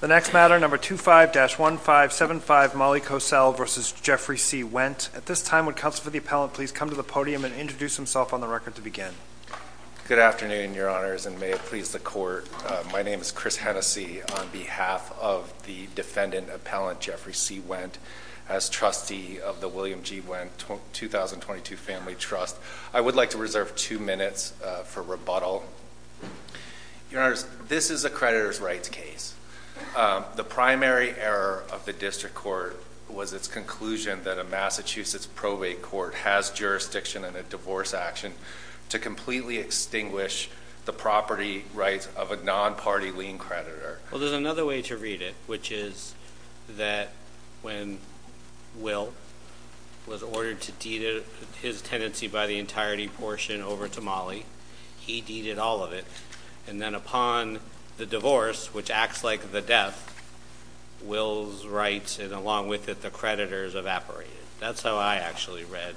The next matter, number 25-1575, Molly Cosel v. Jeffrey C. Wendt. At this time, would counsel for the appellant please come to the podium and introduce himself on the record to begin. Good afternoon, your honors, and may it please the court. My name is Chris Hennessey on behalf of the defendant appellant, Jeffrey C. Wendt, as trustee of the William G. Wendt 2022 Family Trust. I would like to reserve two minutes for rebuttal. Your honors, this is a creditor's rights case. The primary error of the district court was its conclusion that a Massachusetts probate court has jurisdiction in a divorce action to completely extinguish the property rights of a non-party lien creditor. Well, there's another way to read it, which is that when Will was ordered to deed his tenancy by the entirety portion over to Molly, he deeded all of it. And then upon the divorce, which acts like the death, Will's rights and along with it the creditor's evaporated. That's how I actually read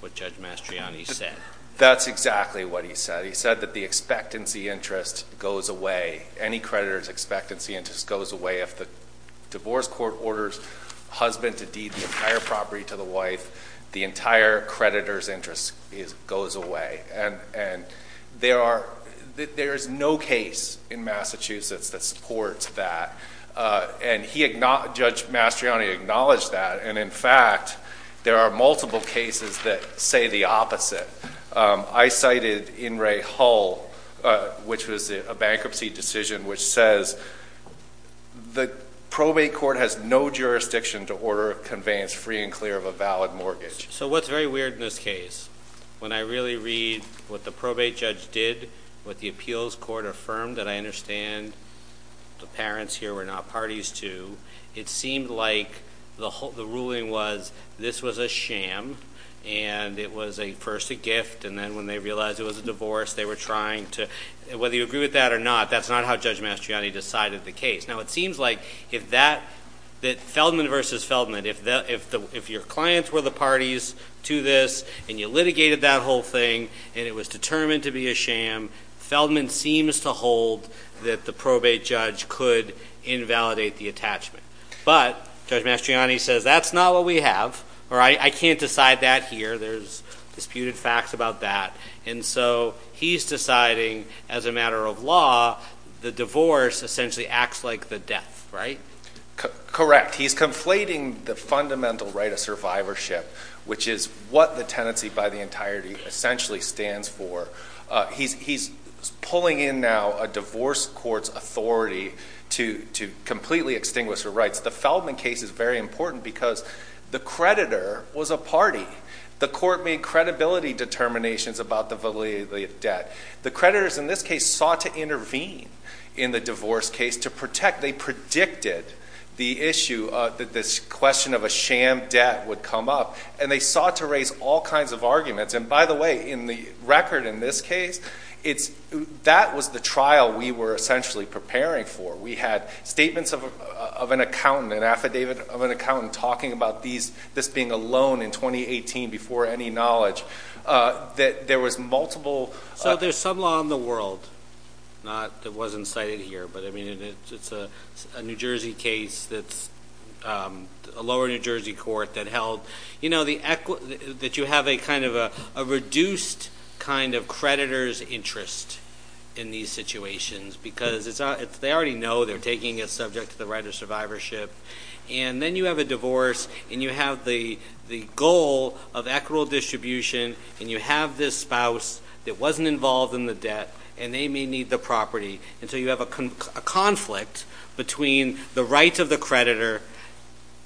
what Judge Mastriani said. That's exactly what he said. He said that the expectancy interest goes away. Any creditor's expectancy interest goes away. If the divorce court orders the husband to deed the entire property to the wife, the entire creditor's interest goes away. And there is no case in Massachusetts that supports that. And Judge Mastriani acknowledged that. And in fact, there are multiple cases that say the opposite. I cited In Re Hull, which was a bankruptcy decision, which says the probate court has no jurisdiction to order conveyance free and clear of a valid mortgage. So what's very weird in this case, when I really read what the probate judge did, what the appeals court affirmed that I understand the parents here were not parties to, it seemed like the ruling was this was a sham. And it was first a gift. And then when they realized it was a divorce, they were trying to, whether you agree with that or not, that's not how Judge Mastriani decided the case. Now, it seems like Feldman versus Feldman, if your clients were the parties to this and you litigated that whole thing and it was determined to be a sham, Feldman seems to hold that the probate judge could invalidate the attachment. But Judge Mastriani says that's not what we have, or I can't decide that here. There's disputed facts about that. And so he's deciding, as a matter of law, the divorce essentially acts like the death, right? Correct. He's conflating the fundamental right of survivorship, which is what the tenancy by the entirety essentially stands for. He's pulling in now a divorce court's authority to completely extinguish her rights. The Feldman case is very important because the creditor was a party. The court made credibility determinations about the validity of the debt. The creditors in this case sought to intervene in the divorce case to protect. They predicted the issue that this question of a sham debt would come up. And they sought to raise all kinds of arguments. And, by the way, in the record in this case, that was the trial we were essentially preparing for. We had statements of an accountant, an affidavit of an accountant talking about this being a loan in 2018 before any knowledge. There was multiple- So there's some law in the world that wasn't cited here. But, I mean, it's a New Jersey case that's a lower New Jersey court that held, you know, that you have a kind of a reduced kind of creditor's interest in these situations. Because they already know they're taking it subject to the right of survivorship. And then you have a divorce, and you have the goal of equitable distribution, and you have this spouse that wasn't involved in the debt, and they may need the property. And so you have a conflict between the rights of the creditor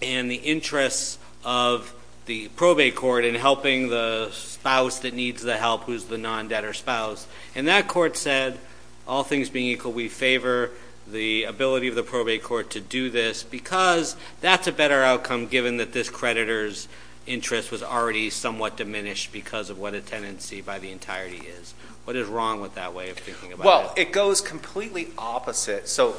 and the interests of the probate court in helping the spouse that needs the help who's the non-debtor spouse. And that court said, all things being equal, we favor the ability of the probate court to do this because that's a better outcome given that this creditor's interest was already somewhat diminished because of what a tenancy by the entirety is. What is wrong with that way of thinking about it? Well, it goes completely opposite. So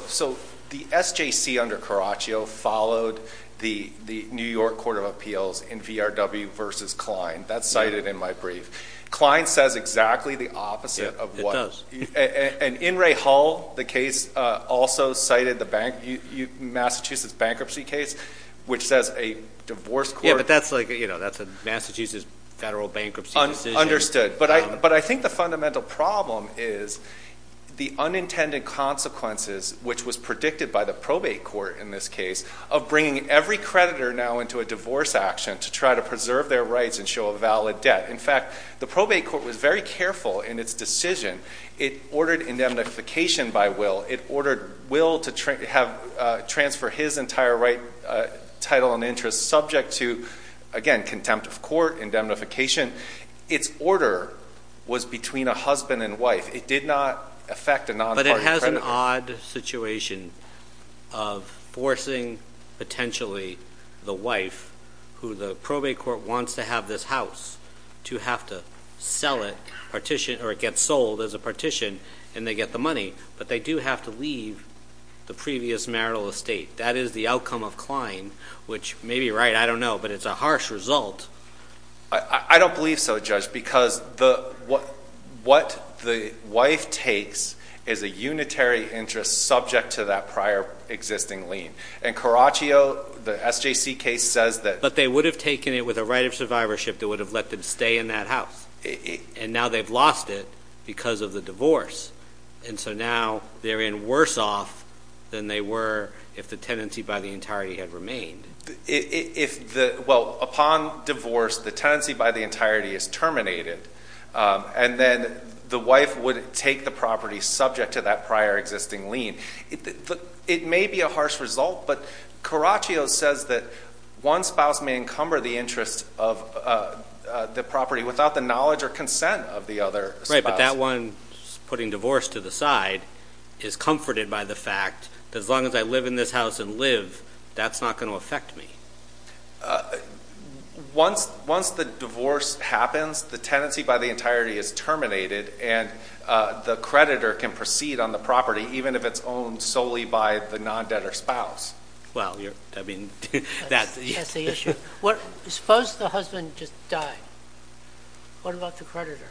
the SJC under Caraccio followed the New York Court of Appeals in VRW versus Kline. That's cited in my brief. Kline says exactly the opposite of what – It does. And in Ray Hall, the case also cited the Massachusetts bankruptcy case, which says a divorce court – Yeah, but that's like, you know, that's a Massachusetts federal bankruptcy decision. Understood. But I think the fundamental problem is the unintended consequences, which was predicted by the probate court in this case, of bringing every creditor now into a divorce action to try to preserve their rights and show a valid debt. In fact, the probate court was very careful in its decision. It ordered indemnification by will. It ordered will to transfer his entire right, title, and interest subject to, again, contempt of court, indemnification. Its order was between a husband and wife. It did not affect a nonpartisan creditor. But it has an odd situation of forcing, potentially, the wife, who the probate court wants to have this house, to have to sell it, or it gets sold as a partition, and they get the money. But they do have to leave the previous marital estate. That is the outcome of Kline, which may be right. I don't know. But it's a harsh result. I don't believe so, Judge, because what the wife takes is a unitary interest subject to that prior existing lien. And Caraccio, the SJC case, says that. But they would have taken it with a right of survivorship that would have let them stay in that house. And now they've lost it because of the divorce. And so now they're in worse off than they were if the tenancy by the entirety had remained. Well, upon divorce, the tenancy by the entirety is terminated. And then the wife would take the property subject to that prior existing lien. It may be a harsh result. But Caraccio says that one spouse may encumber the interest of the property without the knowledge or consent of the other spouse. Right, but that one, putting divorce to the side, is comforted by the fact that as long as I live in this house and live, that's not going to affect me. Once the divorce happens, the tenancy by the entirety is terminated, and the creditor can proceed on the property even if it's owned solely by the non-debtor spouse. Well, I mean, that's the issue. Suppose the husband just died. What about the creditor?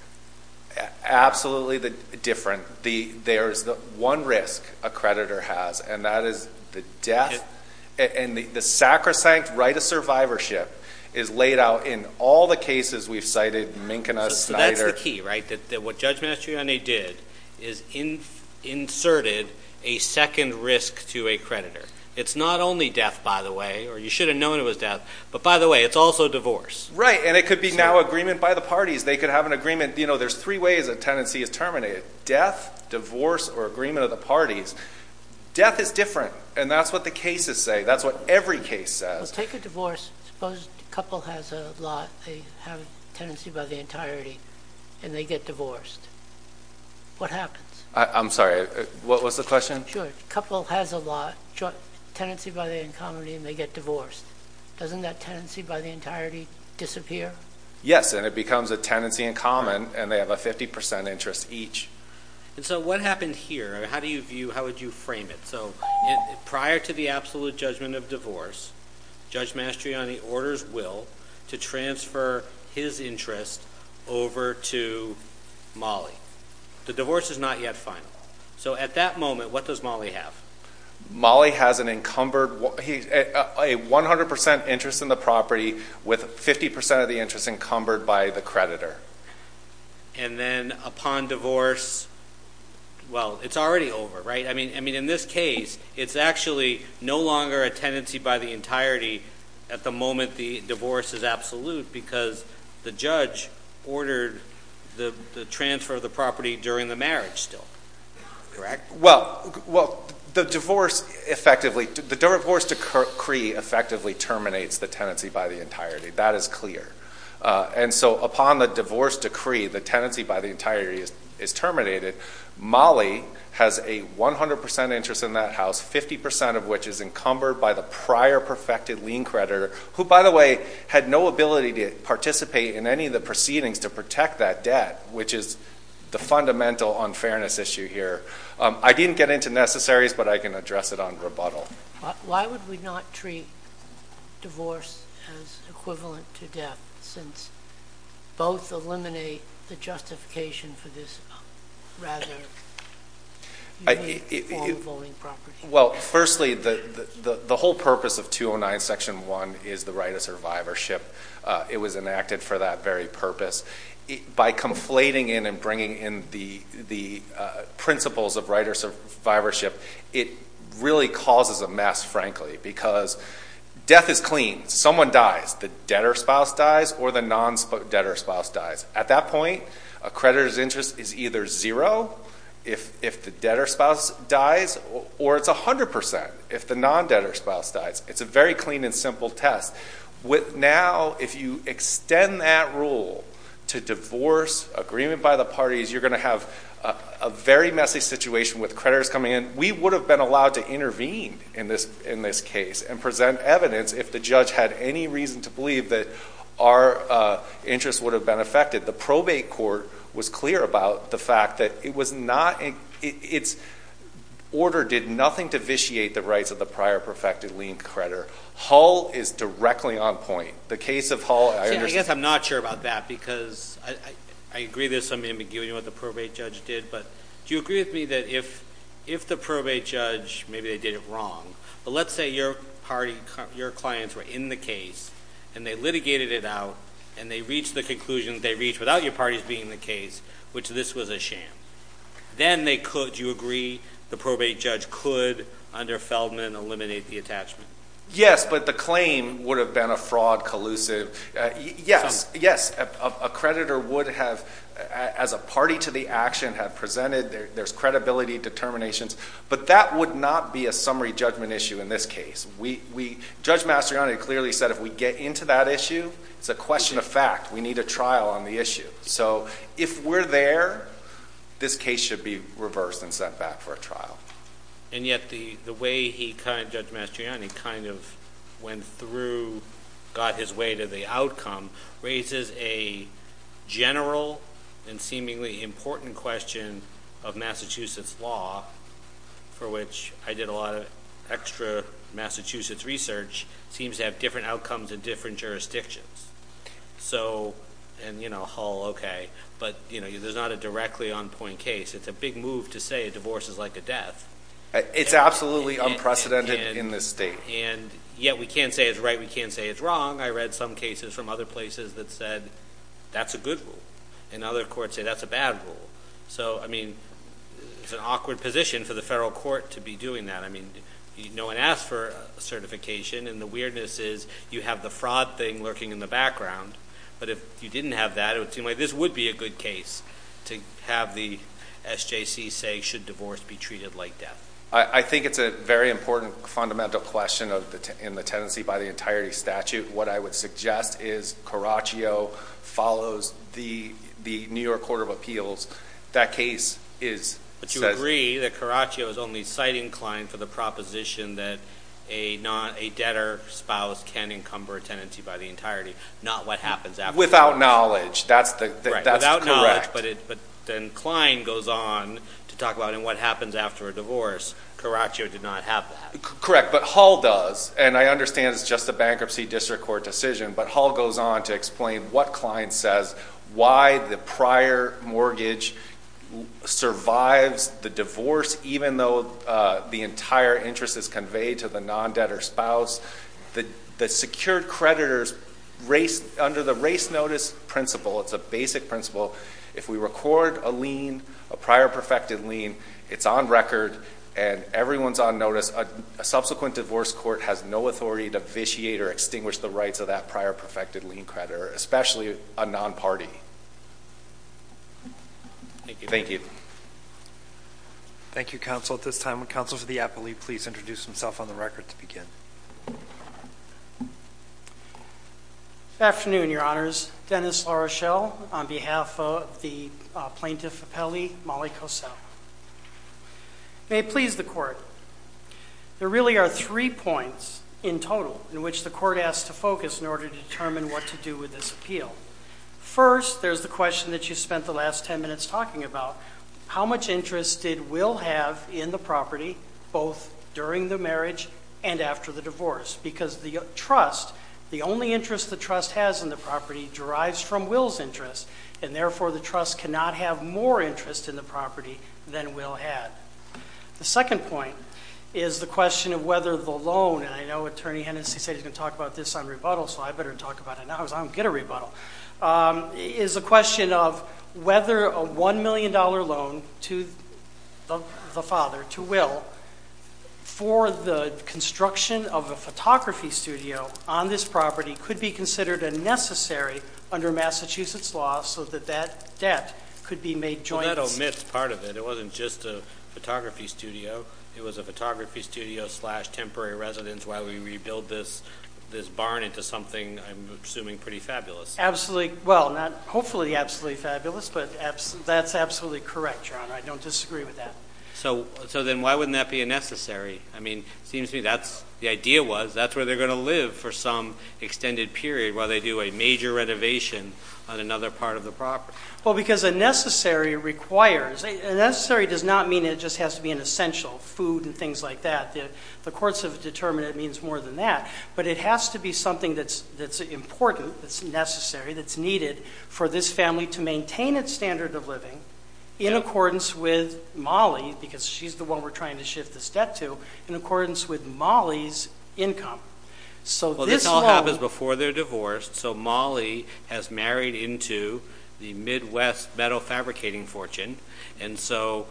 Absolutely different. There's one risk a creditor has, and that is the death. And the sacrosanct right of survivorship is laid out in all the cases we've cited, Minkina, Snyder. So that's the key, right, that what Judge Mastroianni did is inserted a second risk to a creditor. It's not only death, by the way, or you should have known it was death. But by the way, it's also divorce. Right, and it could be now agreement by the parties. They could have an agreement. There's three ways a tenancy is terminated. Death, divorce, or agreement of the parties. Death is different, and that's what the cases say. That's what every case says. Well, take a divorce. Suppose the couple has a lot. They have a tenancy by the entirety, and they get divorced. What happens? I'm sorry. What was the question? Sure. The couple has a lot, tenancy by the encomity, and they get divorced. Doesn't that tenancy by the entirety disappear? Yes, and it becomes a tenancy in common, and they have a 50% interest each. And so what happened here? How do you view, how would you frame it? So prior to the absolute judgment of divorce, Judge Mastroianni orders Will to transfer his interest over to Molly. The divorce is not yet final. So at that moment, what does Molly have? Molly has an encumbered, a 100% interest in the property with 50% of the interest encumbered by the creditor. And then upon divorce, well, it's already over, right? I mean, in this case, it's actually no longer a tenancy by the entirety at the moment the divorce is absolute because the judge ordered the transfer of the property during the marriage still, correct? Well, the divorce effectively, the divorce decree effectively terminates the tenancy by the entirety. That is clear. And so upon the divorce decree, the tenancy by the entirety is terminated. Molly has a 100% interest in that house, 50% of which is encumbered by the prior perfected lien creditor, who, by the way, had no ability to participate in any of the proceedings to protect that debt, which is the fundamental unfairness issue here. I didn't get into necessaries, but I can address it on rebuttal. Why would we not treat divorce as equivalent to death since both eliminate the justification for this rather unique form of owning property? Well, firstly, the whole purpose of 209 Section 1 is the right of survivorship. It was enacted for that very purpose. By conflating in and bringing in the principles of right of survivorship, it really causes a mess, frankly, because death is clean. Someone dies. The debtor spouse dies or the non-debtor spouse dies. At that point, a creditor's interest is either zero if the debtor spouse dies or it's 100% if the non-debtor spouse dies. It's a very clean and simple test. Now, if you extend that rule to divorce, agreement by the parties, you're going to have a very messy situation with creditors coming in. We would have been allowed to intervene in this case and present evidence if the judge had any reason to believe that our interest would have been affected. The probate court was clear about the fact that its order did nothing to vitiate the rights of the prior perfected lien creditor. Hull is directly on point. The case of Hull, I understand. I guess I'm not sure about that because I agree there's some ambiguity about what the probate judge did, but do you agree with me that if the probate judge, maybe they did it wrong, but let's say your clients were in the case and they litigated it out and they reached the conclusion they reached without your parties being in the case, which this was a sham, then they could, do you agree, the probate judge could, under Feldman, eliminate the attachment? Yes, but the claim would have been a fraud collusive. Yes, a creditor would have, as a party to the action, have presented there's credibility determinations, but that would not be a summary judgment issue in this case. Judge Mastriani clearly said if we get into that issue, it's a question of fact. We need a trial on the issue. So if we're there, this case should be reversed and sent back for a trial. And yet the way Judge Mastriani kind of went through, got his way to the outcome, raises a general and seemingly important question of Massachusetts law, for which I did a lot of extra Massachusetts research, seems to have different outcomes in different jurisdictions. And, you know, Hull, okay, but there's not a directly on-point case. It's a big move to say a divorce is like a death. It's absolutely unprecedented in this state. And yet we can't say it's right. We can't say it's wrong. I read some cases from other places that said that's a good rule, and other courts say that's a bad rule. So, I mean, it's an awkward position for the federal court to be doing that. I mean, no one asked for certification, and the weirdness is you have the fraud thing lurking in the background. But if you didn't have that, it would seem like this would be a good case to have the SJC say should divorce be treated like death. I think it's a very important fundamental question in the tenancy by the entirety statute. What I would suggest is Caraccio follows the New York Court of Appeals. That case is said. I agree that Caraccio is only citing Klein for the proposition that a debtor spouse can encumber a tenancy by the entirety, not what happens after. Without knowledge. That's correct. But then Klein goes on to talk about what happens after a divorce. Caraccio did not have that. Correct. But Hall does, and I understand it's just a bankruptcy district court decision. But Hall goes on to explain what Klein says, why the prior mortgage survives the divorce even though the entire interest is conveyed to the non-debtor spouse. The secured creditors race under the race notice principle. It's a basic principle. If we record a lien, a prior perfected lien, it's on record and everyone's on notice. A subsequent divorce court has no authority to vitiate or extinguish the rights of that prior perfected lien creditor, especially a non-party. Thank you. Thank you, Counsel. At this time, would Counsel for the Appellee please introduce himself on the record to begin? Good afternoon, Your Honors. Dennis LaRochelle on behalf of the Plaintiff Appellee, Molly Cosell. May it please the Court, there really are three points in total in which the Court has to focus in order to determine what to do with this appeal. First, there's the question that you spent the last ten minutes talking about, how much interest did Will have in the property both during the marriage and after the divorce? Because the trust, the only interest the trust has in the property derives from Will's interest, and therefore the trust cannot have more interest in the property than Will had. The second point is the question of whether the loan, and I know Attorney Hennessey said he's going to talk about this on rebuttal, so I better talk about it now because I don't get a rebuttal, is a question of whether a $1 million loan to the father, to Will, for the construction of a photography studio on this property could be considered a necessary under Massachusetts law so that that debt could be made joint. Well, that omits part of it. It wasn't just a photography studio. It was a photography studio slash temporary residence while we rebuild this barn into something I'm assuming pretty fabulous. Absolutely. Well, not hopefully absolutely fabulous, but that's absolutely correct, Your Honor. I don't disagree with that. So then why wouldn't that be a necessary? I mean, it seems to me the idea was that's where they're going to live for some extended period while they do a major renovation on another part of the property. Well, because a necessary requires. A necessary does not mean it just has to be an essential, food and things like that. The courts have determined it means more than that. But it has to be something that's important, that's necessary, that's needed, for this family to maintain its standard of living in accordance with Molly, because she's the one we're trying to shift this debt to, in accordance with Molly's income. Well, this all happens before they're divorced. So Molly has married into the Midwest metal fabricating fortune, and so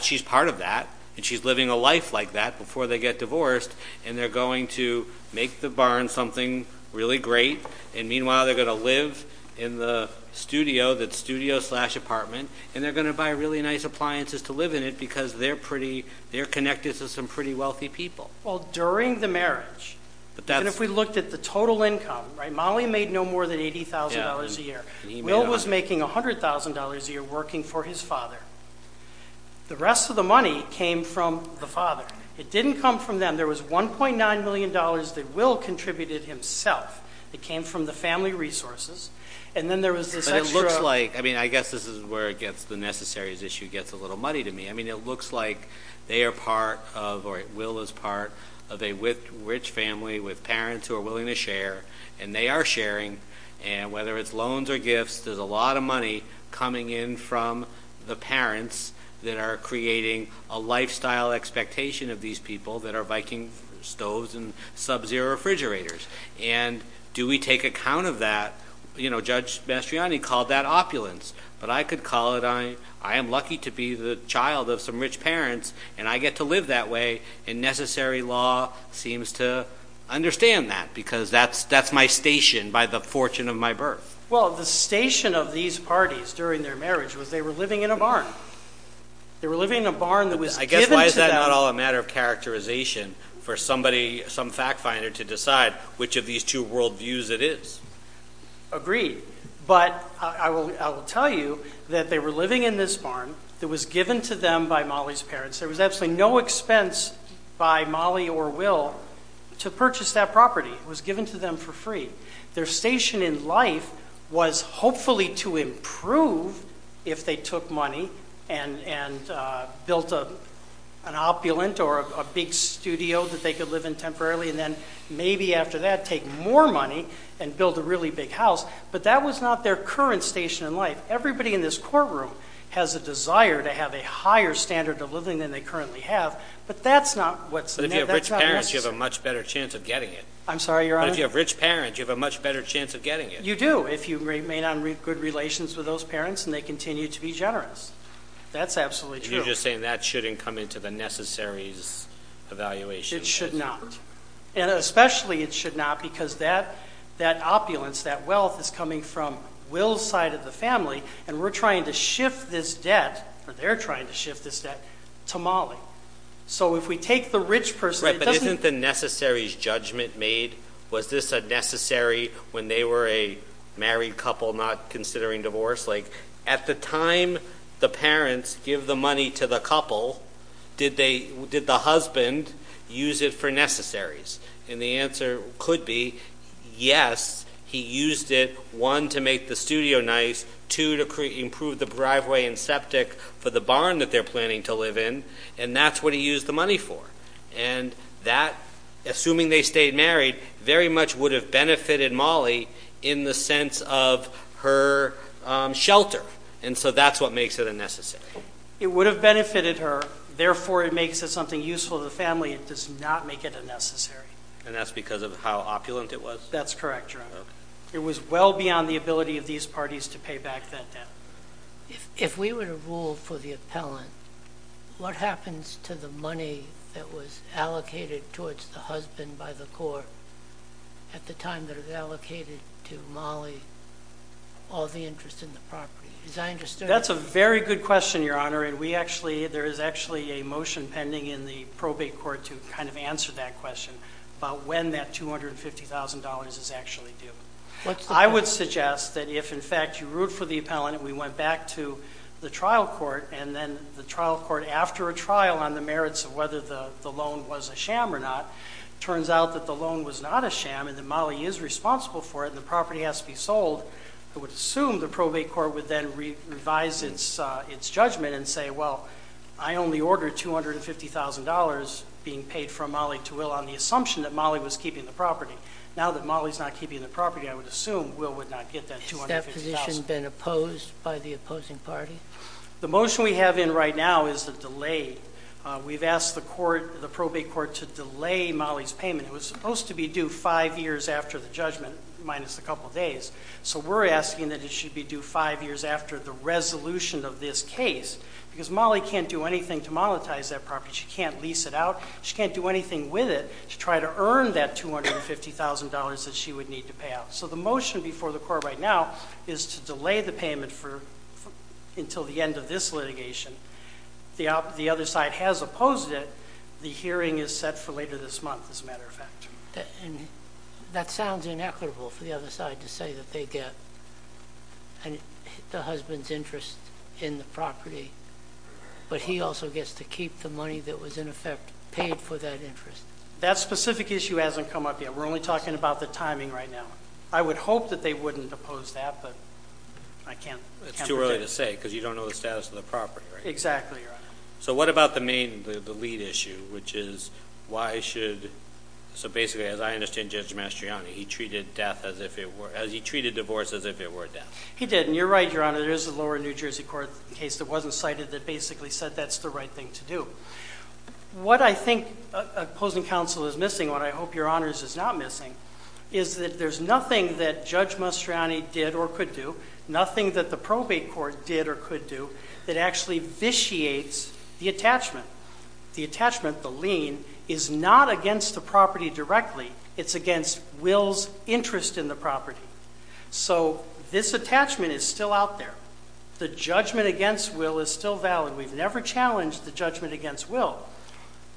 she's part of that, and she's living a life like that before they get divorced, and they're going to make the barn something really great, and meanwhile they're going to live in the studio that's studio slash apartment, and they're going to buy really nice appliances to live in it, because they're connected to some pretty wealthy people. Well, during the marriage, even if we looked at the total income, right, Molly made no more than $80,000 a year. Will was making $100,000 a year working for his father. The rest of the money came from the father. It didn't come from them. There was $1.9 million that Will contributed himself. It came from the family resources, and then there was this extra. It looks like, I mean, I guess this is where the necessaries issue gets a little muddy to me. I mean, it looks like they are part of, or Will is part of, a rich family with parents who are willing to share, and they are sharing, and whether it's loans or gifts, there's a lot of money coming in from the parents that are creating a lifestyle expectation of these people that are biking stoves and Sub-Zero refrigerators, and do we take account of that? Judge Mastriani called that opulence, but I could call it I am lucky to be the child of some rich parents, and I get to live that way, and necessary law seems to understand that because that's my station by the fortune of my birth. Well, the station of these parties during their marriage was they were living in a barn. They were living in a barn that was given to them. It's not all a matter of characterization for somebody, some fact finder to decide which of these two world views it is. Agreed, but I will tell you that they were living in this barn that was given to them by Molly's parents. There was absolutely no expense by Molly or Will to purchase that property. It was given to them for free. Their station in life was hopefully to improve if they took money and built an opulent or a big studio that they could live in temporarily, and then maybe after that take more money and build a really big house, but that was not their current station in life. Everybody in this courtroom has a desire to have a higher standard of living than they currently have, but that's not what's necessary. But if you have rich parents, you have a much better chance of getting it. I'm sorry, Your Honor? But if you have rich parents, you have a much better chance of getting it. You do if you remain on good relations with those parents and they continue to be generous. That's absolutely true. You're just saying that shouldn't come into the necessaries evaluation. It should not, and especially it should not because that opulence, that wealth, is coming from Will's side of the family, and we're trying to shift this debt, or they're trying to shift this debt, to Molly. So if we take the rich person, it doesn't... Was this a necessary when they were a married couple not considering divorce? Like at the time the parents give the money to the couple, did the husband use it for necessaries? And the answer could be yes, he used it, one, to make the studio nice, two, to improve the driveway and septic for the barn that they're planning to live in, and that's what he used the money for. And that, assuming they stayed married, very much would have benefited Molly in the sense of her shelter, and so that's what makes it a necessary. It would have benefited her, therefore it makes it something useful to the family. It does not make it a necessary. And that's because of how opulent it was? That's correct, Your Honor. Okay. It was well beyond the ability of these parties to pay back that debt. If we were to rule for the appellant, what happens to the money that was allocated towards the husband by the court at the time that it was allocated to Molly, all the interest in the property? Is that understood? That's a very good question, Your Honor, and there is actually a motion pending in the probate court to kind of answer that question about when that $250,000 is actually due. I would suggest that if, in fact, you root for the appellant and we went back to the trial court and then the trial court, after a trial on the merits of whether the loan was a sham or not, it turns out that the loan was not a sham and that Molly is responsible for it and the property has to be sold, I would assume the probate court would then revise its judgment and say, well, I only ordered $250,000 being paid from Molly to Will on the assumption that Molly was keeping the property. Now that Molly is not keeping the property, I would assume Will would not get that $250,000. Has that position been opposed by the opposing party? The motion we have in right now is a delay. We've asked the court, the probate court, to delay Molly's payment. It was supposed to be due five years after the judgment minus a couple days, so we're asking that it should be due five years after the resolution of this case because Molly can't do anything to monetize that property. She can't lease it out. She can't do anything with it. We're asking the court to try to earn that $250,000 that she would need to pay out. So the motion before the court right now is to delay the payment until the end of this litigation. The other side has opposed it. The hearing is set for later this month, as a matter of fact. That sounds inequitable for the other side to say that they get the husband's interest in the property, but he also gets to keep the money that was in effect paid for that interest. That specific issue hasn't come up yet. We're only talking about the timing right now. I would hope that they wouldn't oppose that, but I can't predict. It's too early to say because you don't know the status of the property, right? Exactly, Your Honor. So what about the main, the lead issue, which is why should, so basically as I understand Judge Mastriani, he treated divorce as if it were death. He didn't. You're right, Your Honor. There is a lower New Jersey court case that wasn't cited that basically said that's the right thing to do. What I think opposing counsel is missing, what I hope Your Honors is not missing, is that there's nothing that Judge Mastriani did or could do, nothing that the probate court did or could do that actually vitiates the attachment. The attachment, the lien, is not against the property directly. It's against Will's interest in the property. So this attachment is still out there. The judgment against Will is still valid. We've never challenged the judgment against Will.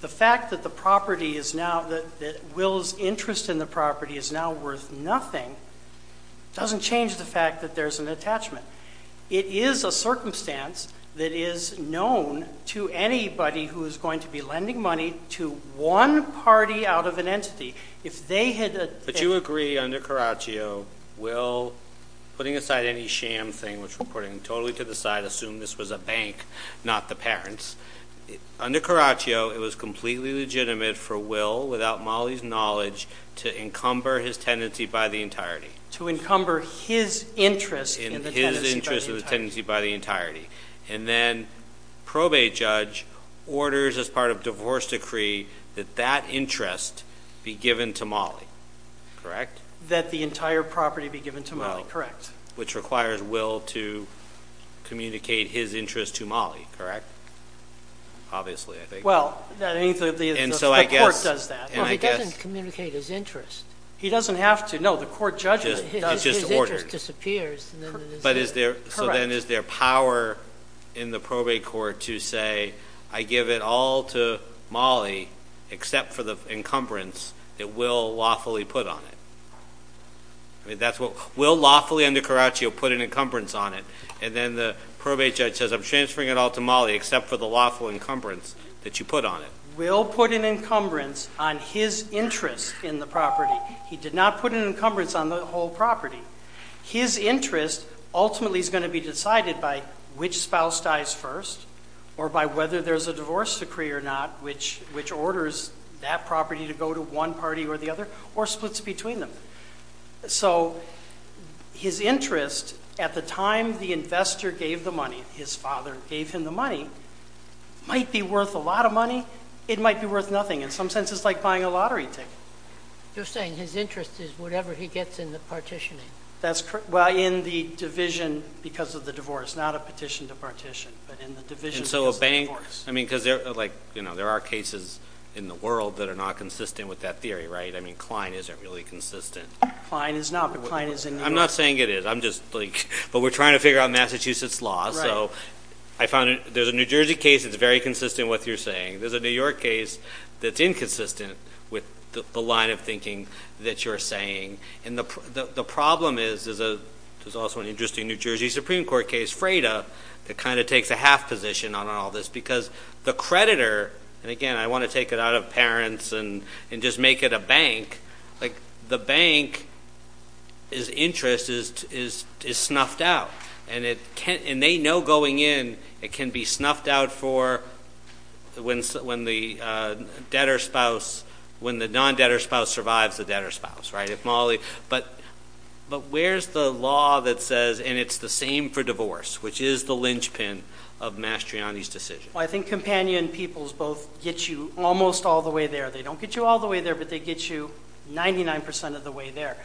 The fact that the property is now, that Will's interest in the property is now worth nothing, doesn't change the fact that there's an attachment. It is a circumstance that is known to anybody who is going to be lending money to one party out of an entity. But you agree under Caraccio, Will, putting aside any sham thing, which we're putting totally to the side, assume this was a bank, not the parents. Under Caraccio, it was completely legitimate for Will, without Molly's knowledge, to encumber his tenancy by the entirety. To encumber his interest in the tenancy by the entirety. His interest in the tenancy by the entirety. And then probate judge orders, as part of divorce decree, that that interest be given to Molly. Correct? That the entire property be given to Molly. Correct. Which requires Will to communicate his interest to Molly. Correct? Obviously, I think. Well, the court does that. He doesn't communicate his interest. He doesn't have to. No, the court judges it. His interest disappears. So then is there power in the probate court to say, I give it all to Molly except for the encumbrance that Will lawfully put on it? Will lawfully, under Caraccio, put an encumbrance on it. And then the probate judge says, I'm transferring it all to Molly except for the lawful encumbrance that you put on it. Will put an encumbrance on his interest in the property. He did not put an encumbrance on the whole property. His interest ultimately is going to be decided by which spouse dies first or by whether there's a divorce decree or not, which orders that property to go to one party or the other or splits between them. So his interest at the time the investor gave the money, his father gave him the money, might be worth a lot of money. It might be worth nothing. In some sense, it's like buying a lottery ticket. You're saying his interest is whatever he gets in the partitioning. That's correct. Well, in the division because of the divorce, not a petition to partition. But in the division because of the divorce. I mean, because there are cases in the world that are not consistent with that theory, right? I mean, Klein isn't really consistent. Klein is not, but Klein is in New York. I'm not saying it is. I'm just like, but we're trying to figure out Massachusetts law. So I found there's a New Jersey case that's very consistent with what you're saying. There's a New York case that's inconsistent with the line of thinking that you're saying. And the problem is there's also an interesting New Jersey Supreme Court case, Freda, that kind of takes a half position on all this because the creditor, and, again, I want to take it out of parents and just make it a bank. Like the bank's interest is snuffed out. And they know going in it can be snuffed out for when the debtor spouse, when the non-debtor spouse survives the debtor spouse, right? But where's the law that says, and it's the same for divorce, which is the linchpin of Mastriani's decision? Well, I think companion peoples both get you almost all the way there. They don't get you all the way there, but they get you 99% of the way there.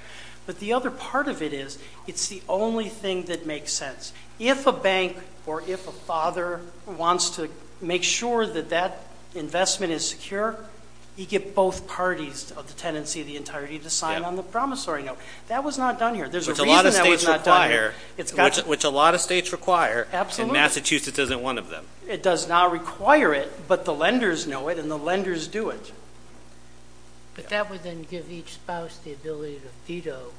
But the other part of it is it's the only thing that makes sense. If a bank or if a father wants to make sure that that investment is secure, you get both parties of the tenancy of the entirety to sign on the promissory note. That was not done here. There's a reason that was not done here. Which a lot of states require. Absolutely. And Massachusetts isn't one of them. It does not require it, but the lenders know it and the lenders do it. But that would then give each spouse the ability to veto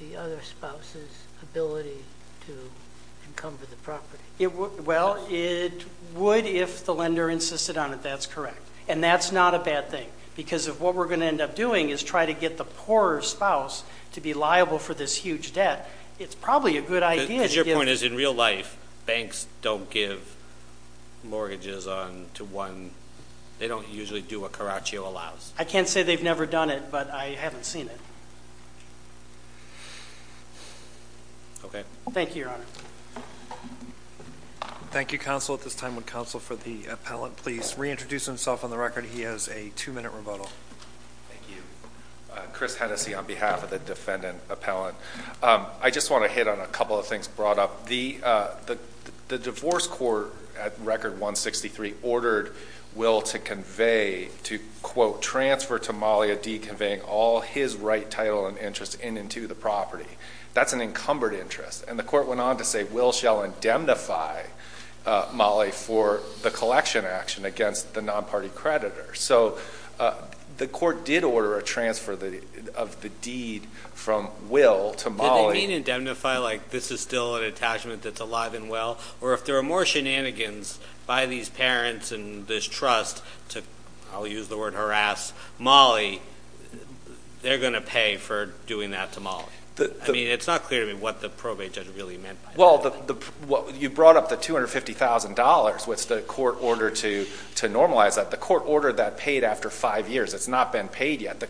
the other spouse's ability to encumber the property. Well, it would if the lender insisted on it. That's correct. And that's not a bad thing because what we're going to end up doing is try to get the poorer spouse to be liable for this huge debt. It's probably a good idea. Because your point is in real life banks don't give mortgages on to one. They don't usually do what Caraccio allows. I can't say they've never done it, but I haven't seen it. Okay. Thank you, Your Honor. Thank you, counsel. At this time, would counsel for the appellant please reintroduce himself on the record? He has a two-minute rebuttal. Thank you. Chris Hennessey on behalf of the defendant appellant. I just want to hit on a couple of things brought up. The divorce court at Record 163 ordered Will to convey, to quote, transfer to Molly a deed conveying all his right title and interest in and to the property. That's an encumbered interest. And the court went on to say, Will shall indemnify Molly for the collection action against the non-party creditor. So the court did order a transfer of the deed from Will to Molly. Did they mean indemnify like this is still an attachment that's alive and well? Or if there are more shenanigans by these parents and this trust to, I'll use the word harass, Molly, they're going to pay for doing that to Molly. I mean, it's not clear to me what the probate judge really meant by that. Well, you brought up the $250,000. What's the court order to normalize that? The court ordered that paid after five years. It's not been paid yet.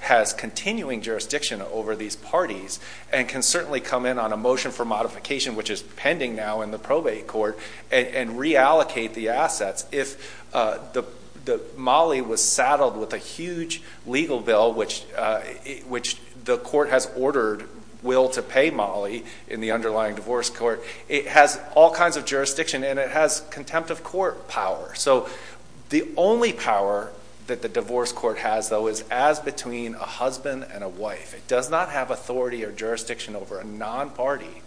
Has continuing jurisdiction over these parties and can certainly come in on a motion for modification, which is pending now in the probate court and reallocate the assets. If the Molly was saddled with a huge legal bill, which the court has ordered Will to pay Molly in the underlying divorce court, it has all kinds of jurisdiction and it has contempt of court power. So the only power that the divorce court has, though, is as between a husband and a wife. It does not have authority or jurisdiction over a non-party.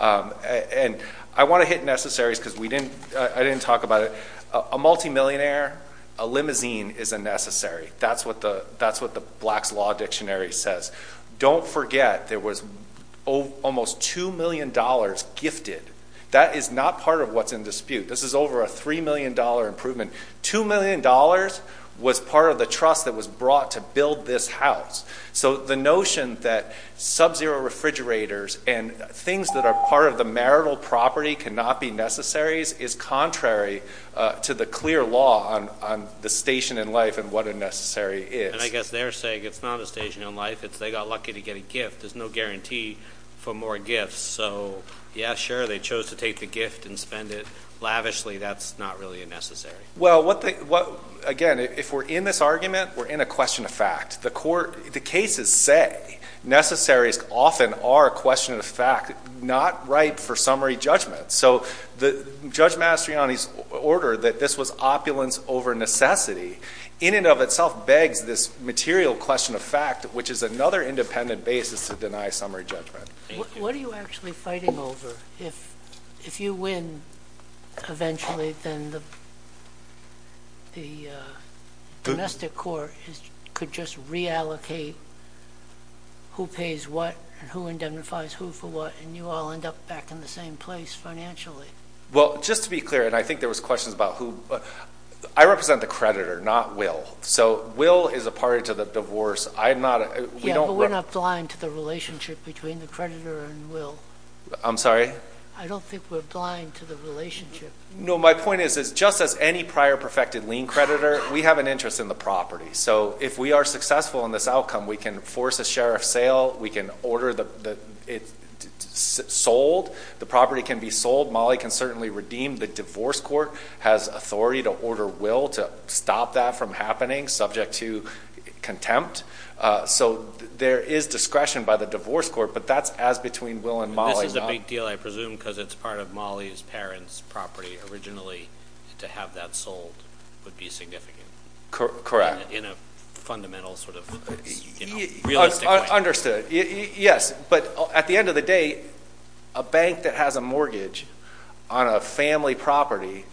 And I want to hit necessaries because I didn't talk about it. A multimillionaire, a limousine is a necessary. That's what the Black's Law Dictionary says. Don't forget there was almost $2 million gifted. That is not part of what's in dispute. This is over a $3 million improvement. $2 million was part of the trust that was brought to build this house. So the notion that subzero refrigerators and things that are part of the marital property cannot be necessaries is contrary to the clear law on the station in life and what a necessary is. And I guess they're saying it's not a station in life. It's they got lucky to get a gift. There's no guarantee for more gifts. So, yeah, sure, they chose to take the gift and spend it lavishly. That's not really a necessary. Well, again, if we're in this argument, we're in a question of fact. The cases say necessaries often are a question of fact, not ripe for summary judgment. So Judge Mastriani's order that this was opulence over necessity in and of itself begs this material question of fact, which is another independent basis to deny summary judgment. What are you actually fighting over? If you win eventually, then the domestic court could just reallocate who pays what and who indemnifies who for what, and you all end up back in the same place financially. Well, just to be clear, and I think there was questions about who. I represent the creditor, not Will. So Will is a party to the divorce. Yeah, but we're not blind to the relationship between the creditor and Will. I'm sorry? I don't think we're blind to the relationship. No, my point is just as any prior perfected lien creditor, we have an interest in the property. So if we are successful in this outcome, we can force a sheriff's sale. We can order it sold. The property can be sold. Molly can certainly redeem. The divorce court has authority to order Will to stop that from happening, subject to contempt. So there is discretion by the divorce court, but that's as between Will and Molly. This is a big deal, I presume, because it's part of Molly's parents' property originally. To have that sold would be significant. Correct. In a fundamental sort of realistic way. Understood. Yes, but at the end of the day, a bank that has a mortgage on a family property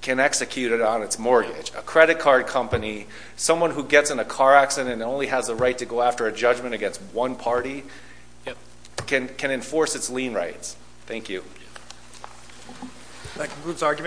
can execute it on its mortgage. A credit card company, someone who gets in a car accident and only has the right to go after a judgment against one party, can enforce its lien rights. Thank you. That concludes argument.